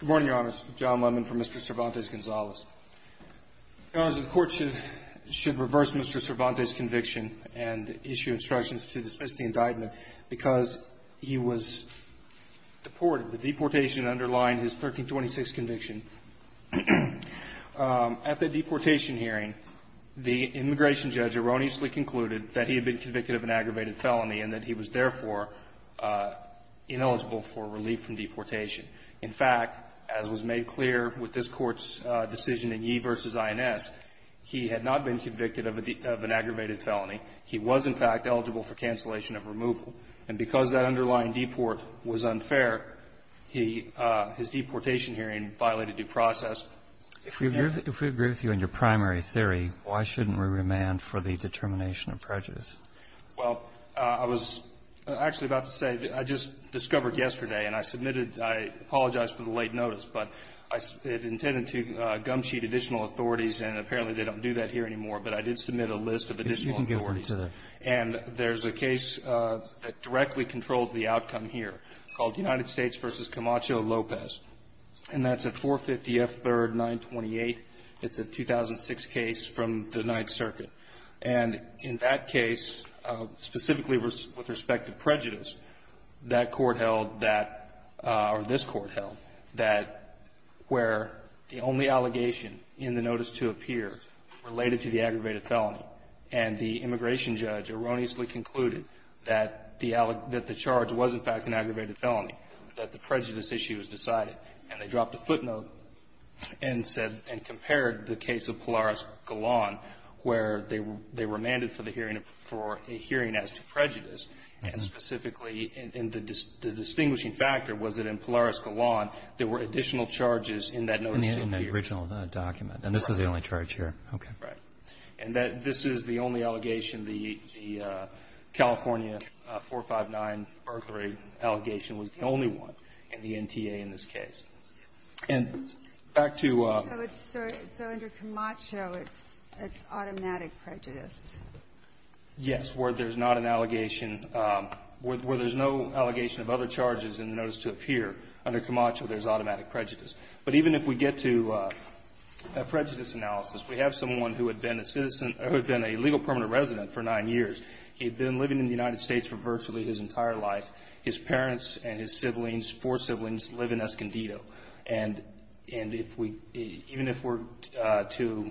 Good morning, Your Honor. It's John Lemon from Mr. Cervantes-Gonzales. Your Honor, the Court should reverse Mr. Cervantes' conviction and issue instructions to dismiss the indictment, because he was deported. The deportation underlined his 1326 conviction. At the deportation hearing, the immigration judge erroneously concluded that he had been convicted of an aggravated felony and that he was, therefore, ineligible for relief from deportation. In fact, as was made clear with this Court's decision in Yee v. INS, he had not been convicted of a cancellation of removal. And because that underlying deport was unfair, he his deportation hearing violated due process. If we agree with you in your primary theory, why shouldn't we remand for the determination of prejudice? Well, I was actually about to say, I just discovered yesterday, and I submitted – I apologize for the late notice, but it intended to gum-sheet additional authorities, and apparently they don't do that here anymore. But I did submit a list of additional authorities. And there's a case that directly controls the outcome here called United States v. Camacho-Lopez, and that's at 450 F. 3rd, 928. It's a 2006 case from the Ninth Circuit. And in that case, specifically with respect to prejudice, that court held that – or this Court held that where the only allegation in the notice to appear related to the aggravated felony, and the immigration judge erroneously concluded that the charge was, in fact, an aggravated felony, that the prejudice issue was decided, and they dropped a footnote and said – and compared the case of Polaris-Galan where they were – they remanded for the hearing – for a hearing as to prejudice. And specifically, and the distinguishing factor was that in Polaris-Galan, there were additional charges in that notice to appear. In the original document. And this was the only charge here. Okay. Right. And that – this is the only allegation. The California 459 burglary allegation was the only one in the NTA in this case. And back to – So it's – so under Camacho, it's automatic prejudice. Yes. Where there's not an allegation – where there's no allegation of other charges in the notice to appear, under Camacho, there's automatic prejudice. But even if we get to a prejudice analysis, we have someone who had been a citizen – who had been a legal permanent resident for nine years. He had been living in the United States for virtually his entire life. His parents and his siblings, four siblings, live in Escondido. And if we – even if we're to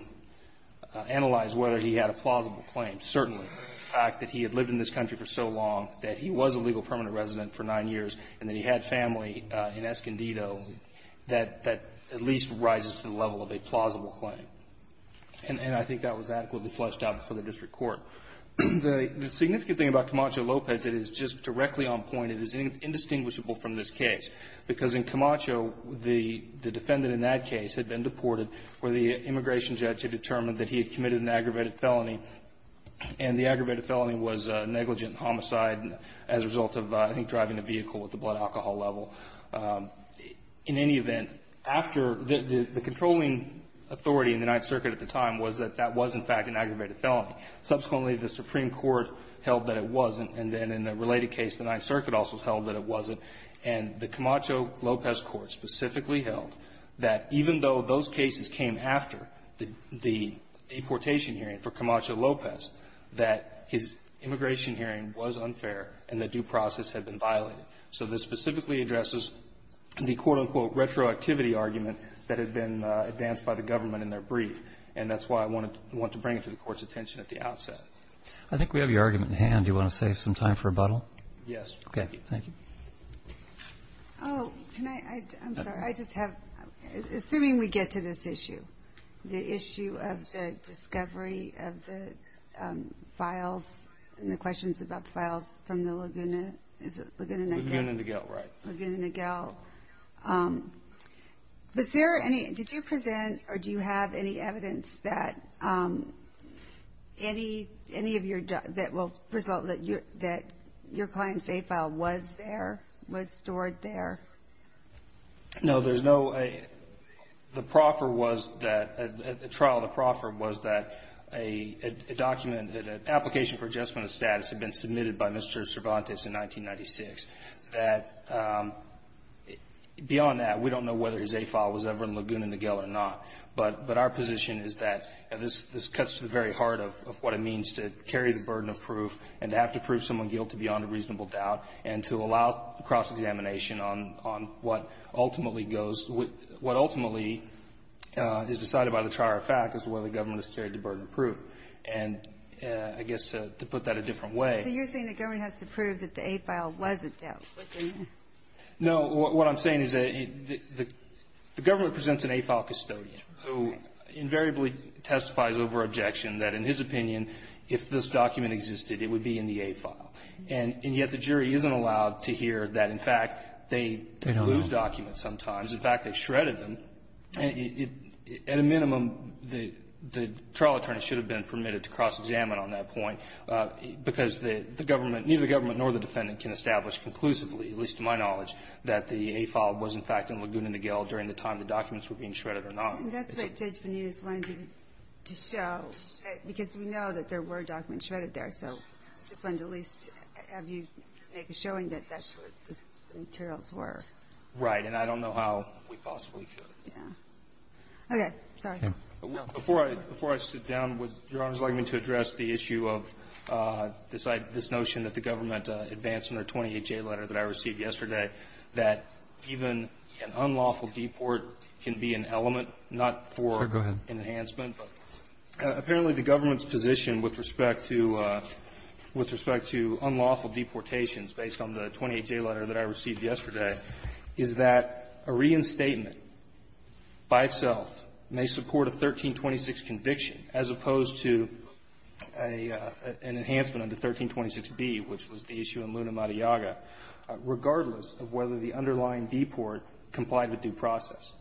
analyze whether he had a plausible claim, certainly the fact that he had lived in this country for so long, that he was a legal permanent resident for nine years, and that he had family in Escondido, that at least rises to the level of a plausible claim. And I think that was adequately fleshed out before the district court. The significant thing about Camacho Lopez that is just directly on point and is indistinguishable from this case, because in Camacho, the defendant in that case had been deported where the immigration judge had determined that he had committed an aggravated felony. And the aggravated felony was negligent homicide as a result of, I think, driving a vehicle at the blood alcohol level. In any event, after – the controlling authority in the Ninth Circuit at the time was that that was, in fact, an aggravated felony. Subsequently, the Supreme Court held that it wasn't. And then in a related case, the Ninth Circuit also held that it wasn't. And the Camacho Lopez court specifically held that even though those cases came after the deportation hearing for Camacho Lopez, that his immigration hearing was unfair and the due process had been violated. So this specifically addresses the, quote, unquote, retroactivity argument that had been advanced by the government in their brief. And that's why I want to bring it to the Court's attention at the outset. I think we have your argument in hand. Do you want to save some time for rebuttal? Yes. Okay. Thank you. Oh, can I – I'm sorry. I just have – assuming we get to this issue, the issue of the discovery of the files and the questions about the files from the Laguna – is it Laguna Niguel? Laguna Niguel, right. Laguna Niguel. Was there any – did you present or do you have any evidence that any of your – that will result that your client's safe file was there, was stored there? No, there's no – the proffer was that – the trial, the proffer was that a document – an application for adjustment of status had been submitted by Mr. Cervantes in 1996. That – beyond that, we don't know whether his safe file was ever in Laguna Niguel or not. But our position is that this cuts to the very heart of what it means to carry the burden of proof and to have to prove someone guilty beyond a reasonable doubt and to allow cross-examination on what ultimately goes – what ultimately is decided by the trier of fact as to whether the government has carried the burden of proof. And I guess to put that a different way – So you're saying the government has to prove that the A file wasn't there? No. What I'm saying is that the government presents an A file custodian who invariably testifies over objection that, in his opinion, if this document existed, it would be in the A file. And yet the jury isn't allowed to hear that, in fact, they lose documents sometimes. In fact, they've shredded them. And it – at a minimum, the trial attorney should have been permitted to cross-examine on that point because the government – neither the government nor the defendant can establish conclusively, at least to my knowledge, that the A file was, in fact, in Laguna Niguel during the time the documents were being shredded or not. And that's what Judge Benitez wanted you to show, because we know that there were documents shredded there. So I just wanted to at least have you make a showing that that's what the materials were. Right. And I don't know how we possibly could. Yeah. Okay. Sorry. Before I sit down, would Your Honor's like me to address the issue of this notion that the government advanced in their 20HA letter that I received yesterday that even an unlawful deport can be an element, not for an enhancement. But apparently the government's position with respect to – with respect to unlawful deportations, based on the 20HA letter that I received yesterday, is that a reinstatement by itself may support a 1326 conviction as opposed to an enhancement under 1326B, which was the issue in Luna Matayaga, regardless of whether the underlying deport complied with due process.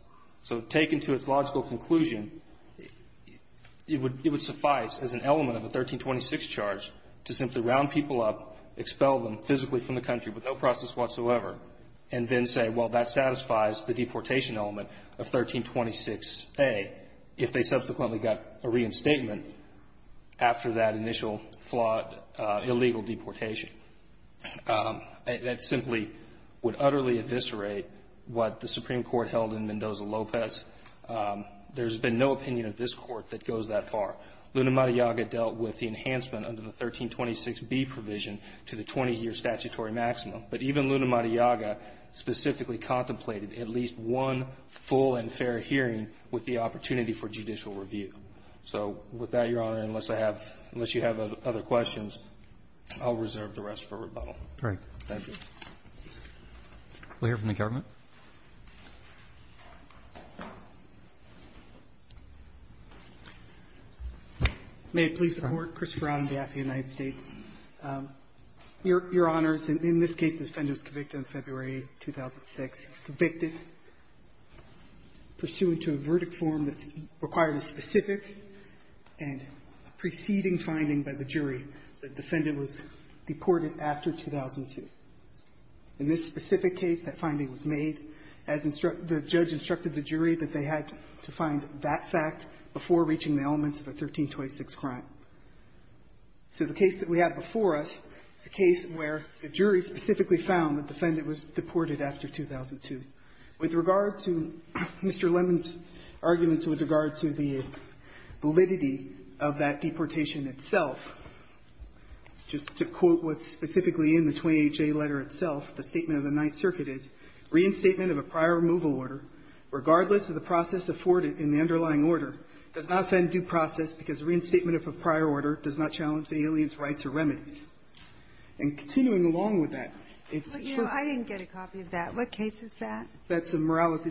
So taken to its logical conclusion, it would suffice as an element of a 1326 charge to simply round people up, expel them physically from the country with no process whatsoever, and then say, well, that satisfies the deportation element of 1326A if they subsequently got a reinstatement after that initial flawed illegal deportation. That simply would utterly eviscerate what the Supreme Court held in Mendoza-Lopez. There's been no opinion of this Court that goes that far. Luna Matayaga dealt with the enhancement under the 1326B provision to the 20-year statutory maximum. But even Luna Matayaga specifically contemplated at least one full and fair hearing with the opportunity for judicial review. So with that, Your Honor, unless I have – unless you have other questions, I'll reserve the rest for rebuttal. Roberts. Thank you. Roberts. We'll hear from the government. Christopher Rounding, D.A.F.E., United States. Your Honors, in this case, the offender was convicted on February 2006. He was convicted pursuant to a verdict form that required a specific and preceding finding by the jury that the defendant was deported after 2002. In this specific case, that finding was made as the judge instructed the jury that they had to find that fact before reaching the elements of a 1326 crime. So the case that we have before us is a case where the jury specifically found that the defendant was deported after 2002. With regard to Mr. Lemon's arguments with regard to the validity of that deportation itself, just to quote what's specifically in the 28J letter itself, the statement of the Ninth Circuit is, Reinstatement of a prior removal order, regardless of the process afforded in the underlying order, does not offend due process because reinstatement of a prior order does not challenge the alien's rights or remedies. And continuing along with that, it's true of the case that's involved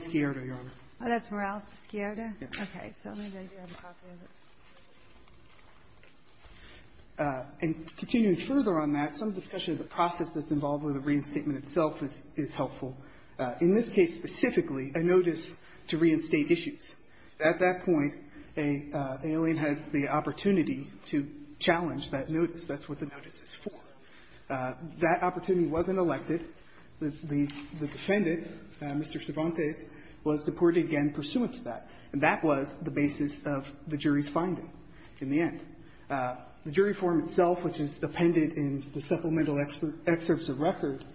with a reinstatement itself is helpful. In this case specifically, a notice to reinstate issues. At that point, the alien has the opportunity to challenge that notice. That's what the notice is. That opportunity wasn't elected. The defendant, Mr. Cervantes, was deported again pursuant to that. And that was the basis of the jury's finding in the end. The jury form itself, which is appended in the supplemental excerpts of record,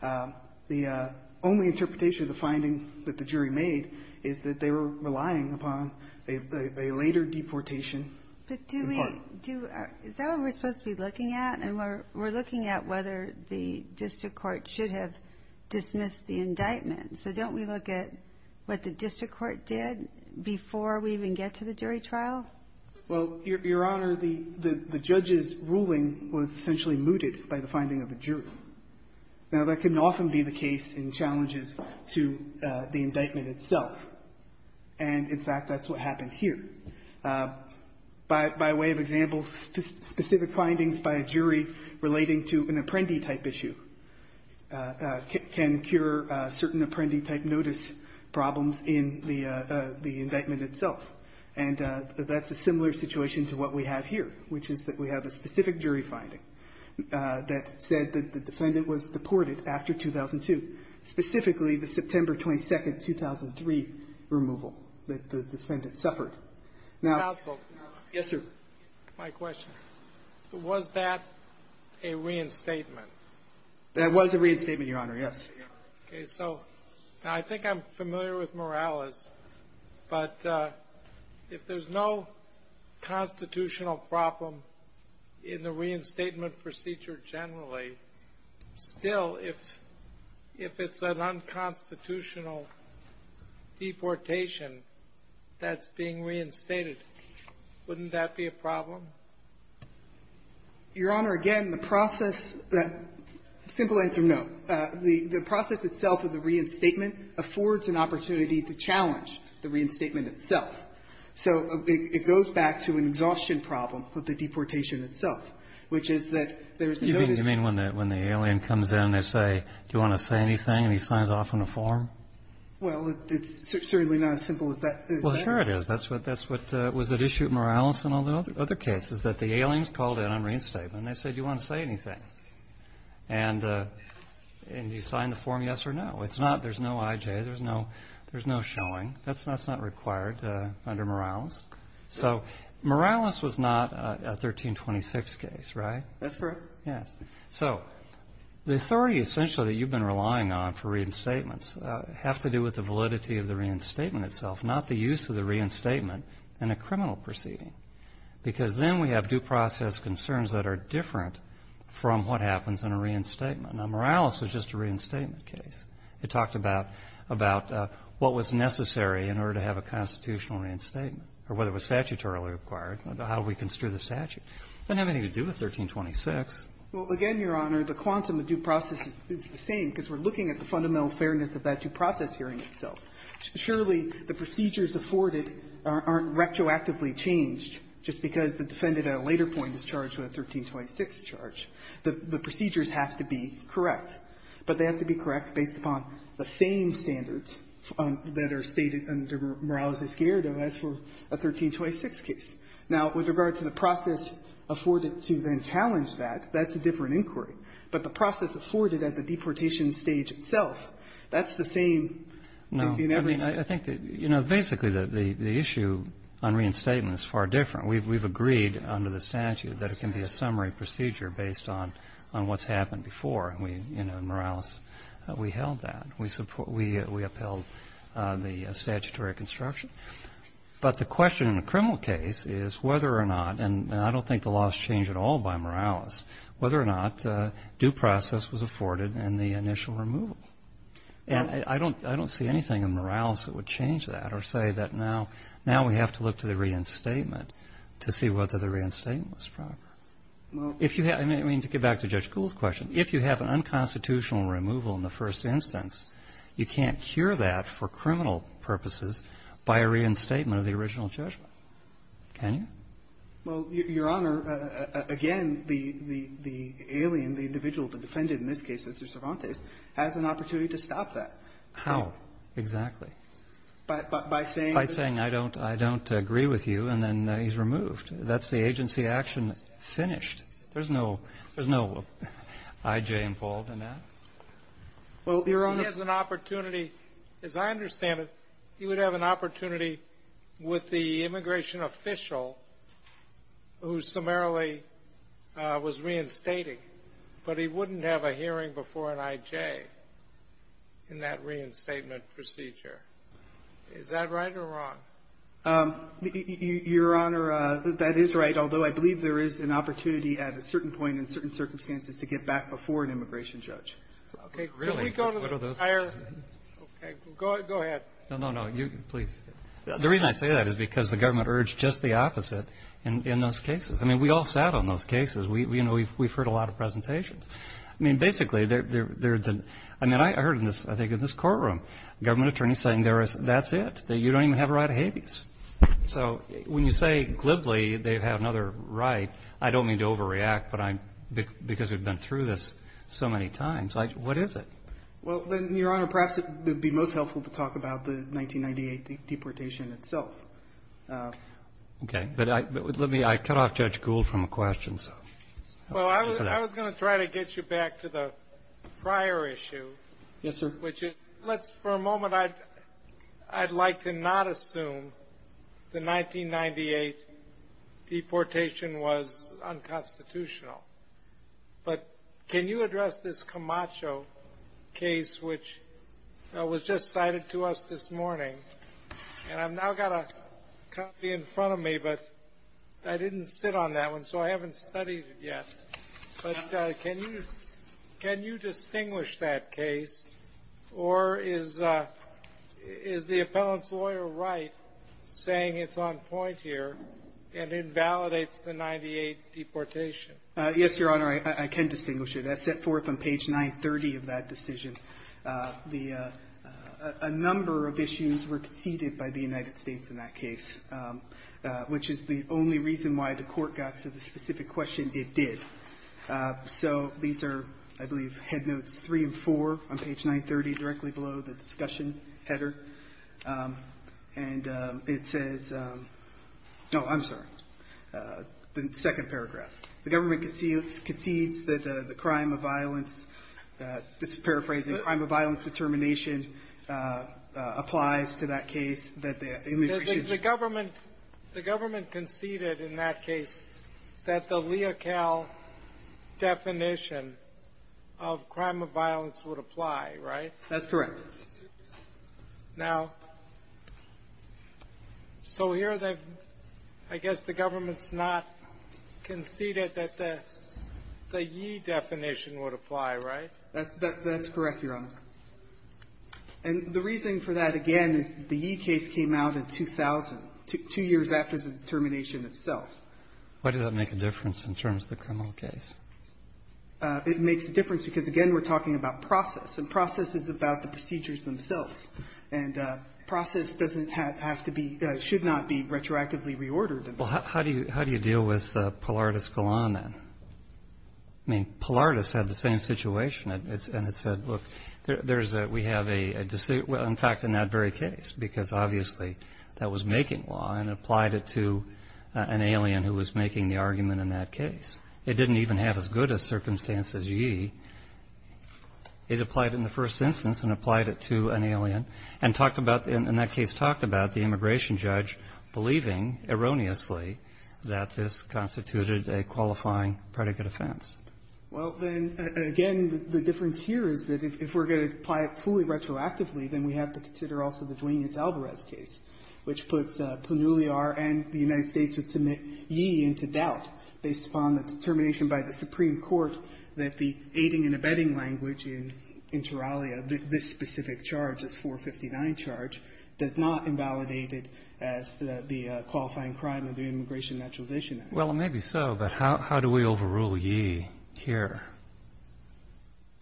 the only interpretation of the finding that the jury made is that they were relying upon a later deportation. But do we do, is that what we're supposed to be looking at? And we're looking at whether the district court should have dismissed the indictment. So don't we look at what the district court did before we even get to the jury trial? Well, Your Honor, the judge's ruling was essentially mooted by the finding of the jury. Now, that can often be the case in challenges to the indictment itself. And, in fact, that's what happened here. By way of example, specific findings by a jury relating to an apprendee-type issue can cure certain apprendee-type notice problems in the indictment itself. And that's a similar situation to what we have here, which is that we have a specific jury finding that said that the defendant was deported after 2002, specifically the September 22, 2003 removal that the defendant suffered. Counsel? Yes, sir. My question, was that a reinstatement? That was a reinstatement, Your Honor, yes. Okay, so I think I'm familiar with Morales, but if there's no constitutional problem in the reinstatement procedure generally, still, if it's an unconstitutional deportation that's being reinstated, wouldn't that be a problem? Your Honor, again, the process that — simple answer, no. The process itself of the reinstatement affords an opportunity to challenge the reinstatement itself. So it goes back to an exhaustion problem with the deportation itself, which is that there's no — You mean when the alien comes in, they say, do you want to say anything, and he signs off on a form? Well, it's certainly not as simple as that. Well, sure it is. That's what — that's what was at issue at Morales and all the other cases, that the aliens called in on reinstatement, and they said, do you want to say anything? And you sign the form yes or no. It's not — there's no I.J. There's no — there's no showing. That's not required under Morales. So Morales was not a 1326 case, right? That's correct. Yes. So the authority essentially that you've been relying on for reinstatements have to do with the validity of the reinstatement itself, not the use of the reinstatement in a criminal proceeding, because then we have due process concerns that are different from what happens in a reinstatement. Now, Morales was just a reinstatement case. It talked about — about what was necessary in order to have a constitutional reinstatement, or whether it was statutorily required, how do we construe the statute. It doesn't have anything to do with 1326. Well, again, Your Honor, the quantum of due process is the same, because we're looking at the fundamental fairness of that due process hearing itself. Surely, the procedures afforded aren't retroactively changed just because the defendant at a later point is charged with a 1326 charge. The procedures have to be correct, but they have to be correct based upon the same standards that are stated under Morales' gerrito as for a 1326 case. Now, with regard to the process afforded to then challenge that, that's a different inquiry. But the process afforded at the deportation stage itself, that's the same in every case. No. I mean, I think that, you know, basically the issue on reinstatement is far different. We've agreed under the statute that it can be a summary procedure based on what's happened before, and we, you know, Morales, we held that. We upheld the statutory construction. But the question in a criminal case is whether or not, and I don't think the law has changed at all by Morales, whether or not due process was afforded in the initial removal. And I don't see anything in Morales that would change that or say that now we have to look to the reinstatement to see whether the reinstatement was proper. I mean, to get back to Judge Gould's question, if you have an unconstitutional removal in the first instance, you can't cure that for criminal purposes by a reinstatement of the original judgment. Can you? Well, Your Honor, again, the alien, the individual that defended in this case Mr. Cervantes, has an opportunity to stop that. How exactly? By saying I don't agree with you, and then he's removed. That's the agency action finished. There's no I.J. involved in that? Well, Your Honor, he has an opportunity, as I understand it, he would have an opportunity with the immigration official who summarily was reinstating. But he wouldn't have a hearing before an I.J. in that reinstatement procedure. Is that right or wrong? Your Honor, that is right, although I believe there is an opportunity at a certain point in certain circumstances to get back before an immigration judge. Okay. Really? Can we go to the entire? Okay. Go ahead. No, no, no. You, please. The reason I say that is because the government urged just the opposite in those cases. I mean, we all sat on those cases. We, you know, we've heard a lot of presentations. I mean, basically, there's an, I mean, I heard in this, I think in this courtroom, government attorneys saying there is, that's it, that you don't even have a right of habeas. So, when you say, glibly, they have another right, I don't mean to overreact, but I'm, because we've been through this so many times, I, what is it? Well, then, Your Honor, perhaps it would be most helpful to talk about the 1998 deportation itself. Okay, but I, but let me, I cut off Judge Gould from a question, so. Well, I was, I was going to try to get you back to the prior issue. Yes, sir. Which is, let's, for a moment, I'd, I'd like to not assume the 1998 deportation was unconstitutional. But, can you address this Camacho case, which was just cited to us this morning? And I've now got a copy in front of me, but I didn't sit on that one, so I haven't studied it yet. But, can you, can you distinguish that case, or is, is the appellant's lawyer right, saying it's on point here, and invalidates the 98 deportation? Yes, Your Honor, I, I can distinguish it. As set forth on page 930 of that decision, the, a number of issues were conceded by the United States in that case, which is the only reason why the Court got to the specific question it did. So, these are, I believe, headnotes three and four on page 930, directly below the discussion header. And it says, no, I'm sorry, the second paragraph. The government concedes that the crime of violence, this is paraphrasing, crime of violence determination applies to that case. That the, I mean, we should. The government, the government conceded in that case that the Leocal definition of crime of violence would apply, right? That's correct. Now, so here they've, I guess the government's not conceded that the, the ye definition would apply, right? That, that, that's correct, Your Honor. And the reason for that, again, is the ye case came out in 2000, two, two years after the determination itself. Why did that make a difference in terms of the criminal case? It makes a difference because, again, we're talking about process, and process is about the procedures themselves. And process doesn't have to be, should not be retroactively reordered. Well, how do you, how do you deal with Pallardus Galan, then? I mean, Pallardus had the same situation, and it's, and it said, look, there, there's a, we have a, a, well, in fact, in that very case. Because, obviously, that was making law, and applied it to an alien who was making the argument in that case. It didn't even have as good a circumstance as ye. It applied in the first instance, and applied it to an alien. And talked about, in that case, talked about the immigration judge believing, erroneously, that this constituted a qualifying predicate offense. Well, then, again, the difference here is that if we're going to apply it fully retroactively, then we have to consider also the Duenas-Alvarez case, which puts Plenuliar and the United States would submit ye into doubt based upon the determination by the Supreme Court that the aiding and abetting language in, in Turalia, that this specific charge as 459 charge does not invalidate it as the qualifying crime of the immigration naturalization act. Well, maybe so, but how, how do we overrule ye here?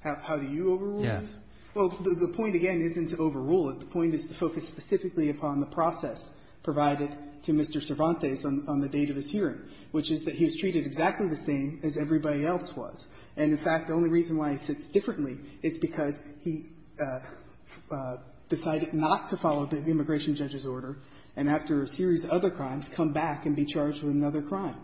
How, how do you overrule? Yes. Well, the, the point, again, isn't to overrule it. The point is to focus specifically upon the process provided to Mr. Cervantes on, on the date of his hearing, which is that he was treated exactly the same as everybody else was. And, in fact, the only reason why he sits differently is because he decided not to follow the immigration judge's order, and after a series of other crimes, come back and be charged with another crime.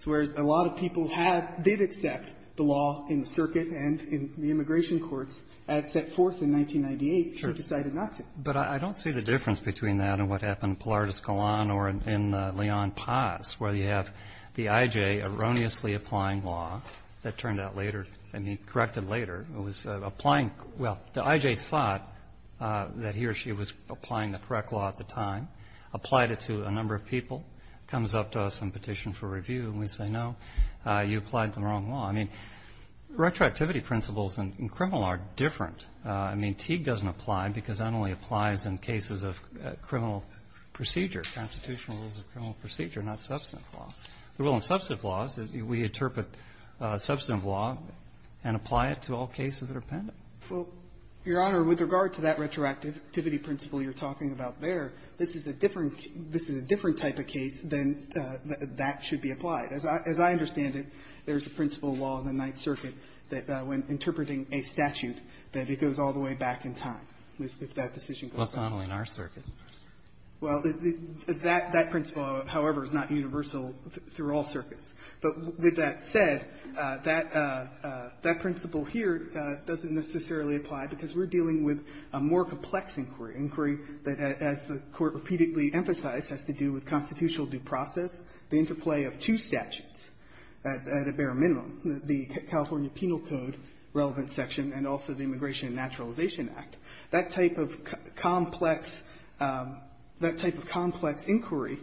So whereas a lot of people have, did accept the law in the circuit and in the immigration courts as set forth in 1998, he decided not to. But I don't see the difference between that and what happened in Pilar de Escalon or in Leon Paz, where you have the I.J. erroneously applying law that turned out later, I mean, corrected later, was applying, well, the I.J. thought that he or she was applying the correct law at the time, applied it to a number of people, comes up to us and petitioned for review, and we say, no, you applied the wrong law. I mean, retroactivity principles in criminal are different. I mean, Teague doesn't apply because that only applies in cases of criminal procedure or constitutional rules of criminal procedure, not substantive law. The rule in substantive law is that we interpret substantive law and apply it to all cases that are pending. Well, Your Honor, with regard to that retroactivity principle you're talking about there, this is a different type of case than that should be applied. As I understand it, there's a principle of law in the Ninth Circuit that when interpreting a statute, that it goes all the way back in time, if that decision goes back. Well, it's not only in our circuit. Well, that principle, however, is not universal through all circuits. But with that said, that principle here doesn't necessarily apply because we're dealing with a more complex inquiry, inquiry that, as the Court repeatedly emphasized, has to do with constitutional due process, the interplay of two statutes at a bare minimum, the California Penal Code relevant section and also the Immigration and Naturalization Act, that type of complex, that type of complex inquiry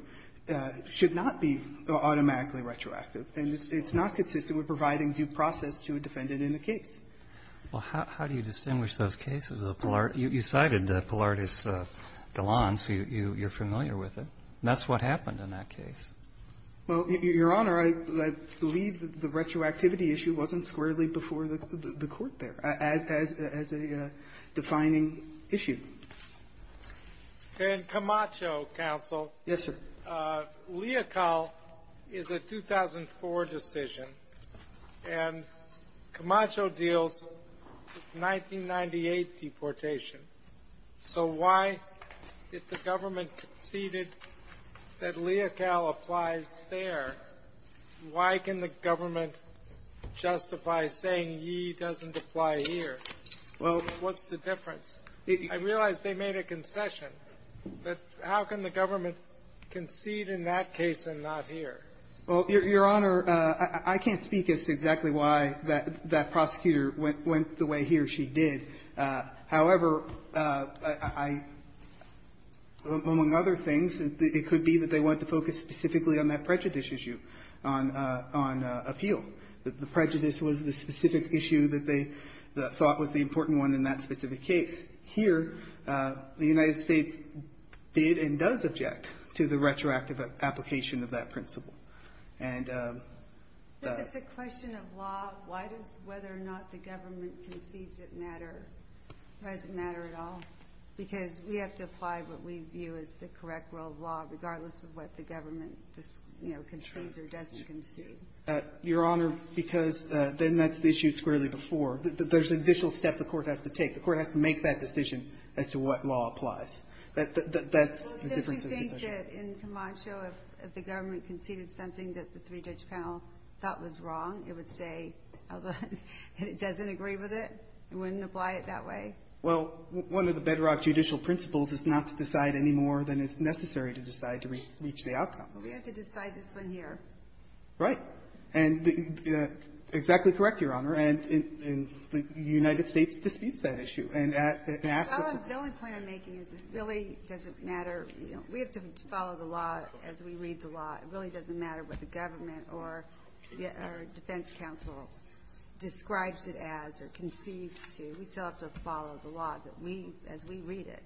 should not be automatically retroactive, and it's not consistent with providing due process to a defendant in a case. Well, how do you distinguish those cases? You cited Pilardis-Galland, so you're familiar with it. That's what happened in that case. Well, Your Honor, I believe the retroactivity issue wasn't squarely before the Court there as a defining issue. Okay. In Camacho, counsel. Yes, sir. Leocal is a 2004 decision, and Camacho deals with 1998 deportation. So why, if the government conceded that Leocal applies there, why can the government justify saying Yee doesn't apply here? Well, what's the difference? I realize they made a concession, but how can the government concede in that case and not here? Well, Your Honor, I can't speak as to exactly why that prosecutor went the way he or she did. However, I am among other things, it could be that they wanted to focus specifically on that prejudice issue, on appeal. The prejudice was the specific issue that they thought was the important one in that specific case. Here, the United States did and does object to the retroactive application of that principle. And the question of law, why does whether or not the government concedes it matter? Does it matter at all? Because we have to apply what we view as the correct rule of law, regardless of what the government concedes or doesn't concede. Your Honor, because then that's the issue squarely before. There's a visual step the court has to take. The court has to make that decision as to what law applies. That's the difference of the concession. Well, don't you think that in Camacho, if the government conceded something that the three-judge panel thought was wrong, it would say, although it doesn't agree with it, it wouldn't apply it that way? Well, one of the bedrock judicial principles is not to decide any more than is necessary to decide to reach the outcome. Well, we have to decide this one here. Right. And exactly correct, Your Honor. And the United States disputes that issue. And asks that the law be considered. The only point I'm making is it really doesn't matter. We have to follow the law as we read the law. It really doesn't matter what the government or defense counsel describes it as or concedes to. We still have to follow the law that we as we read it.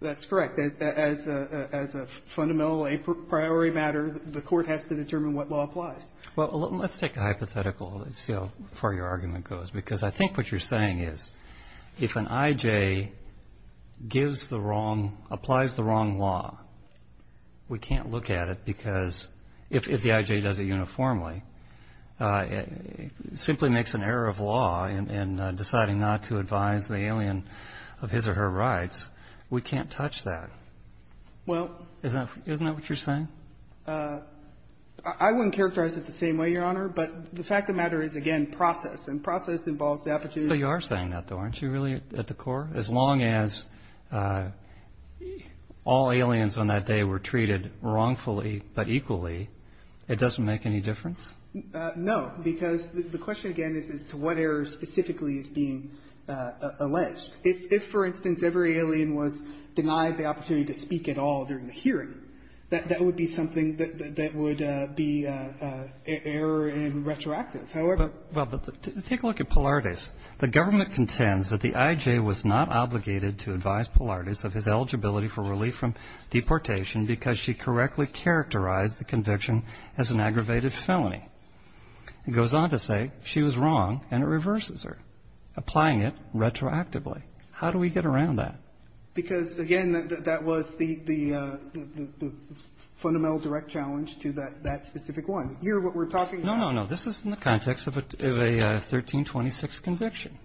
That's correct. As a fundamental a priori matter, the court has to determine what law applies. Well, let's take a hypothetical and see how far your argument goes. Because I think what you're saying is, if an I.J. gives the wrong, applies the wrong law, we can't look at it because if the I.J. does it uniformly, it simply makes an error of law in deciding not to advise the alien of his or her rights. We can't touch that. Well. Isn't that what you're saying? I wouldn't characterize it the same way, Your Honor. But the fact of the matter is, again, process. And process involves the opportunity. So you are saying that, though, aren't you, really, at the core? As long as all aliens on that day were treated wrongfully but equally, it doesn't make any difference? No. Because the question, again, is as to what error specifically is being alleged. If, for instance, every alien was denied the opportunity to speak at all during the hearing, that would be something that would be error in retroactive. However — Well, but take a look at Polartis. The government contends that the I.J. was not obligated to advise Polartis of his eligibility for relief from deportation because she correctly characterized the conviction as an aggravated felony. It goes on to say she was wrong, and it reverses her, applying it retroactively. How do we get around that? Because, again, that was the fundamental direct challenge to that specific one. Here, what we're talking about — No, no, no. This is in the context of a 1326 conviction.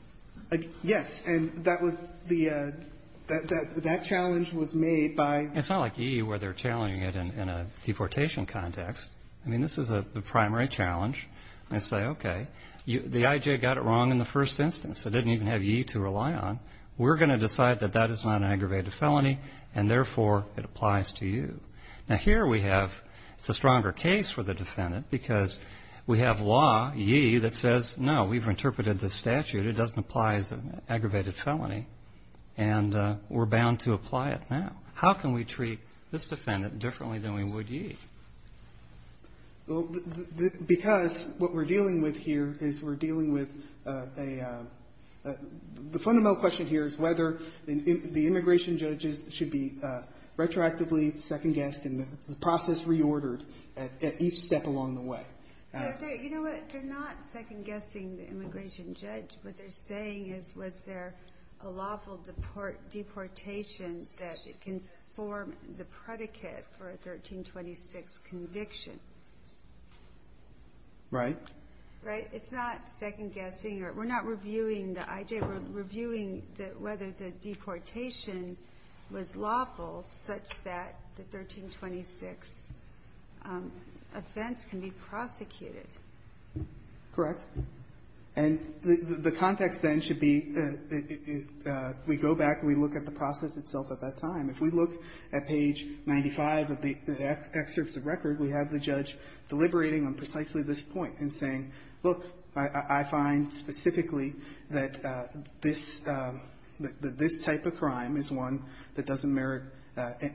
Yes. And that was the — that challenge was made by — It's not like E.E. where they're challenging it in a deportation context. I mean, this is a primary challenge. They say, okay, the I.J. got it wrong in the first instance. It didn't even have ye to rely on. We're going to decide that that is not an aggravated felony, and, therefore, it applies to you. Now, here we have — it's a stronger case for the defendant because we have law, ye, that says, no, we've interpreted the statute. It doesn't apply as an aggravated felony, and we're bound to apply it now. How can we treat this defendant differently than we would ye? Well, because what we're dealing with here is we're dealing with a — the fundamental question here is whether the immigration judges should be retroactively second-guessed and the process reordered at each step along the way. You know what? They're not second-guessing the immigration judge. What they're saying is, was there a lawful deportation that can form the predicate for a 1326 conviction? Right? Right? It's not second-guessing. We're not reviewing the I.J. We're reviewing whether the deportation was lawful such that the 1326 offense can be prosecuted. Correct. And the context, then, should be we go back and we look at the process itself at that point in time, we have the judge deliberating on precisely this point and saying, look, I find specifically that this — that this type of crime is one that doesn't merit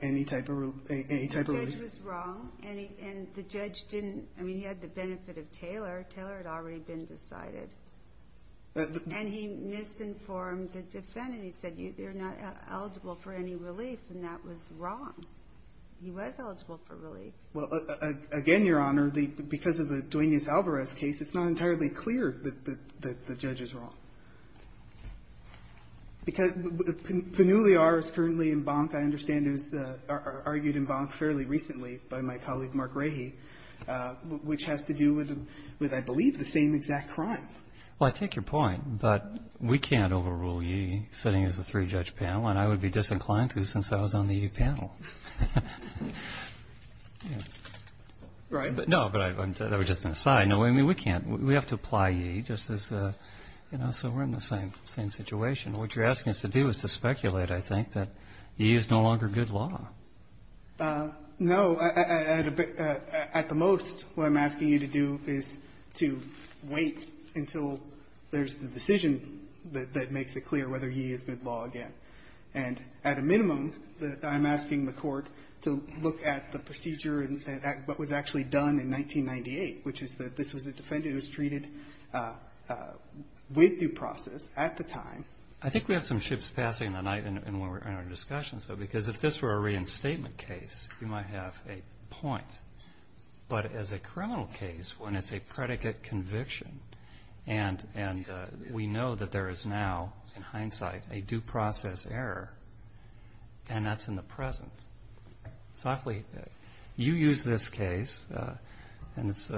any type of — any type of relief. The judge was wrong, and the judge didn't — I mean, he had the benefit of Taylor. Taylor had already been decided. And he misinformed the defendant. He said, you're not eligible for any relief, and that was wrong. He was eligible for relief. Well, again, Your Honor, the — because of the Duenas-Alvarez case, it's not entirely clear that — that the judge is wrong. Because Pannulliar is currently in bonk, I understand, is the — argued in bonk fairly recently by my colleague, Mark Rahe, which has to do with — with, I believe, the same exact crime. Well, I take your point, but we can't overrule Yee sitting as a three-judge panel, and I would be disinclined to since I was on the Yee panel. Right? No, but I'm — that was just an aside. No, I mean, we can't — we have to apply Yee just as a — you know, so we're in the same — same situation. What you're asking us to do is to speculate, I think, that Yee is no longer good law. No. At the most, what I'm asking you to do is to wait until there's the decision that makes it clear whether Yee is good law again. And at a minimum, I'm asking the Court to look at the procedure and what was actually done in 1998, which is that this was a defendant who was treated with due process at the time. I think we have some ships passing the night in our discussions, though, because if this were a reinstatement case, you might have a point. But as a criminal case, when it's a predicate conviction, and we know that there is now, in hindsight, a due process error, and that's in the present, softly, you use this case, and it's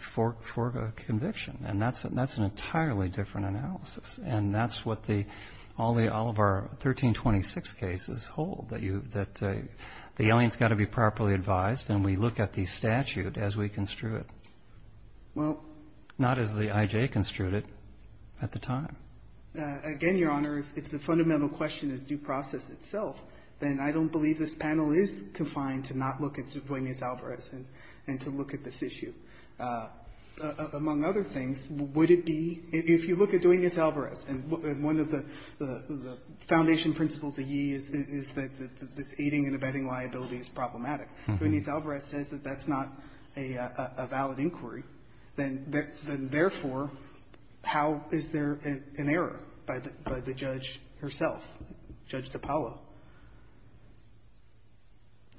for a conviction. And that's an entirely different analysis. And that's what the — all of our 1326 cases hold, that you — that the alien's got to be properly advised, and we look at the statute as we construe it. Well — Not as the I.J. construed it at the time. Again, Your Honor, if the fundamental question is due process itself, then I don't believe this panel is confined to not look at Duenas-Alvarez and to look at this issue. Among other things, would it be — if you look at Duenas-Alvarez, and one of the foundation principles of Yee is that this aiding and abetting liability is problematic. Duenas-Alvarez says that that's not a valid inquiry. Then therefore, how is there an error by the judge herself, Judge DiPaolo?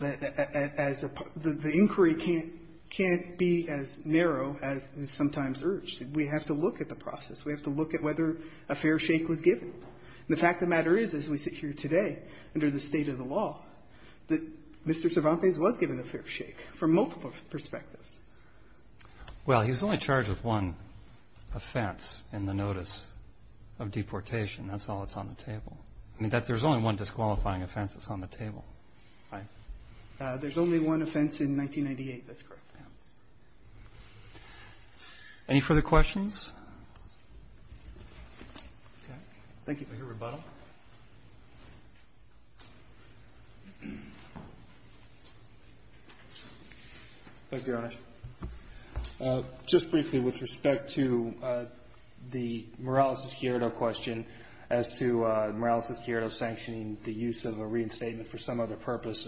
As a — the inquiry can't be as narrow as is sometimes urged. We have to look at the process. We have to look at whether a fair shake was given. The fact of the matter is, as we sit here today under the state of the law, that Mr. Cervantes was given a fair shake from multiple perspectives. Well, he was only charged with one offense in the notice of deportation. That's all that's on the table. I mean, there's only one disqualifying offense that's on the table, right? There's only one offense in 1998. That's correct. Any further questions? Thank you for your rebuttal. Thank you, Your Honor. Just briefly, with respect to the Morales-Escuero question as to Morales-Escuero sanctioning the use of a reinstatement for some other purpose,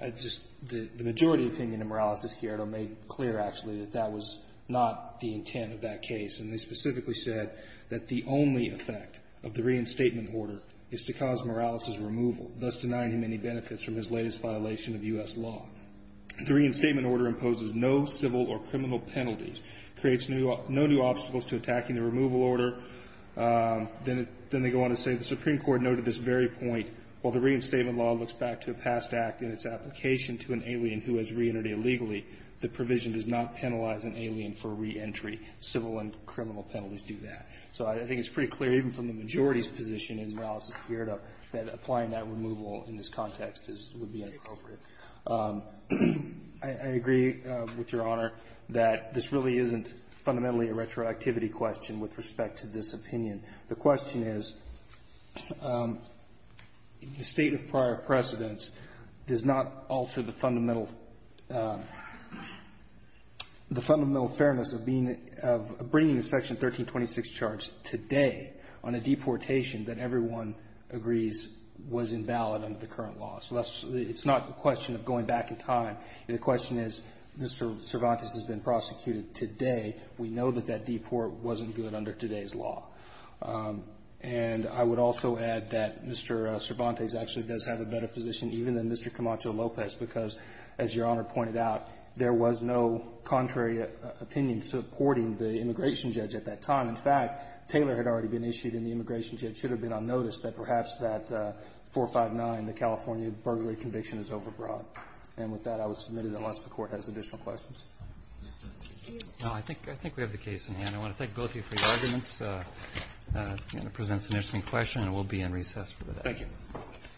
I just — the majority opinion of Morales-Escuero made clear, actually, that that was not the intent of that is to cause Morales' removal, thus denying him any benefits from his latest violation of U.S. law. The reinstatement order imposes no civil or criminal penalties, creates no new obstacles to attacking the removal order. Then they go on to say the Supreme Court noted at this very point, while the reinstatement law looks back to a past act and its application to an alien who has reentered illegally, the provision does not penalize an alien for reentry. Civil and criminal penalties do that. So I think it's pretty clear, even from the majority's position in Morales-Escuero, that applying that removal in this context is — would be inappropriate. I agree with Your Honor that this really isn't fundamentally a retroactivity question with respect to this opinion. The question is, the State of prior precedence does not alter the fundamental fairness of being — of bringing a Section 1326 charge today on a deportation that everyone agrees was invalid under the current law. So that's — it's not a question of going back in time. The question is, Mr. Cervantes has been prosecuted today. We know that that deport wasn't good under today's law. And I would also add that Mr. Cervantes actually does have a better position even than Mr. Camacho-Lopez, because, as Your Honor pointed out, there was no contrary opinion supporting the immigration judge at that time. In fact, Taylor had already been issued, and the immigration judge should have been on notice that perhaps that 459, the California burglary conviction, is overbroad. And with that, I would submit it unless the Court has additional questions. Roberts. Roberts. Thank you. Roberts. No, I think — I think we have the case in hand. I want to thank both of you for your arguments. It presents an interesting question, and we'll be in recess for the rest. Thank you.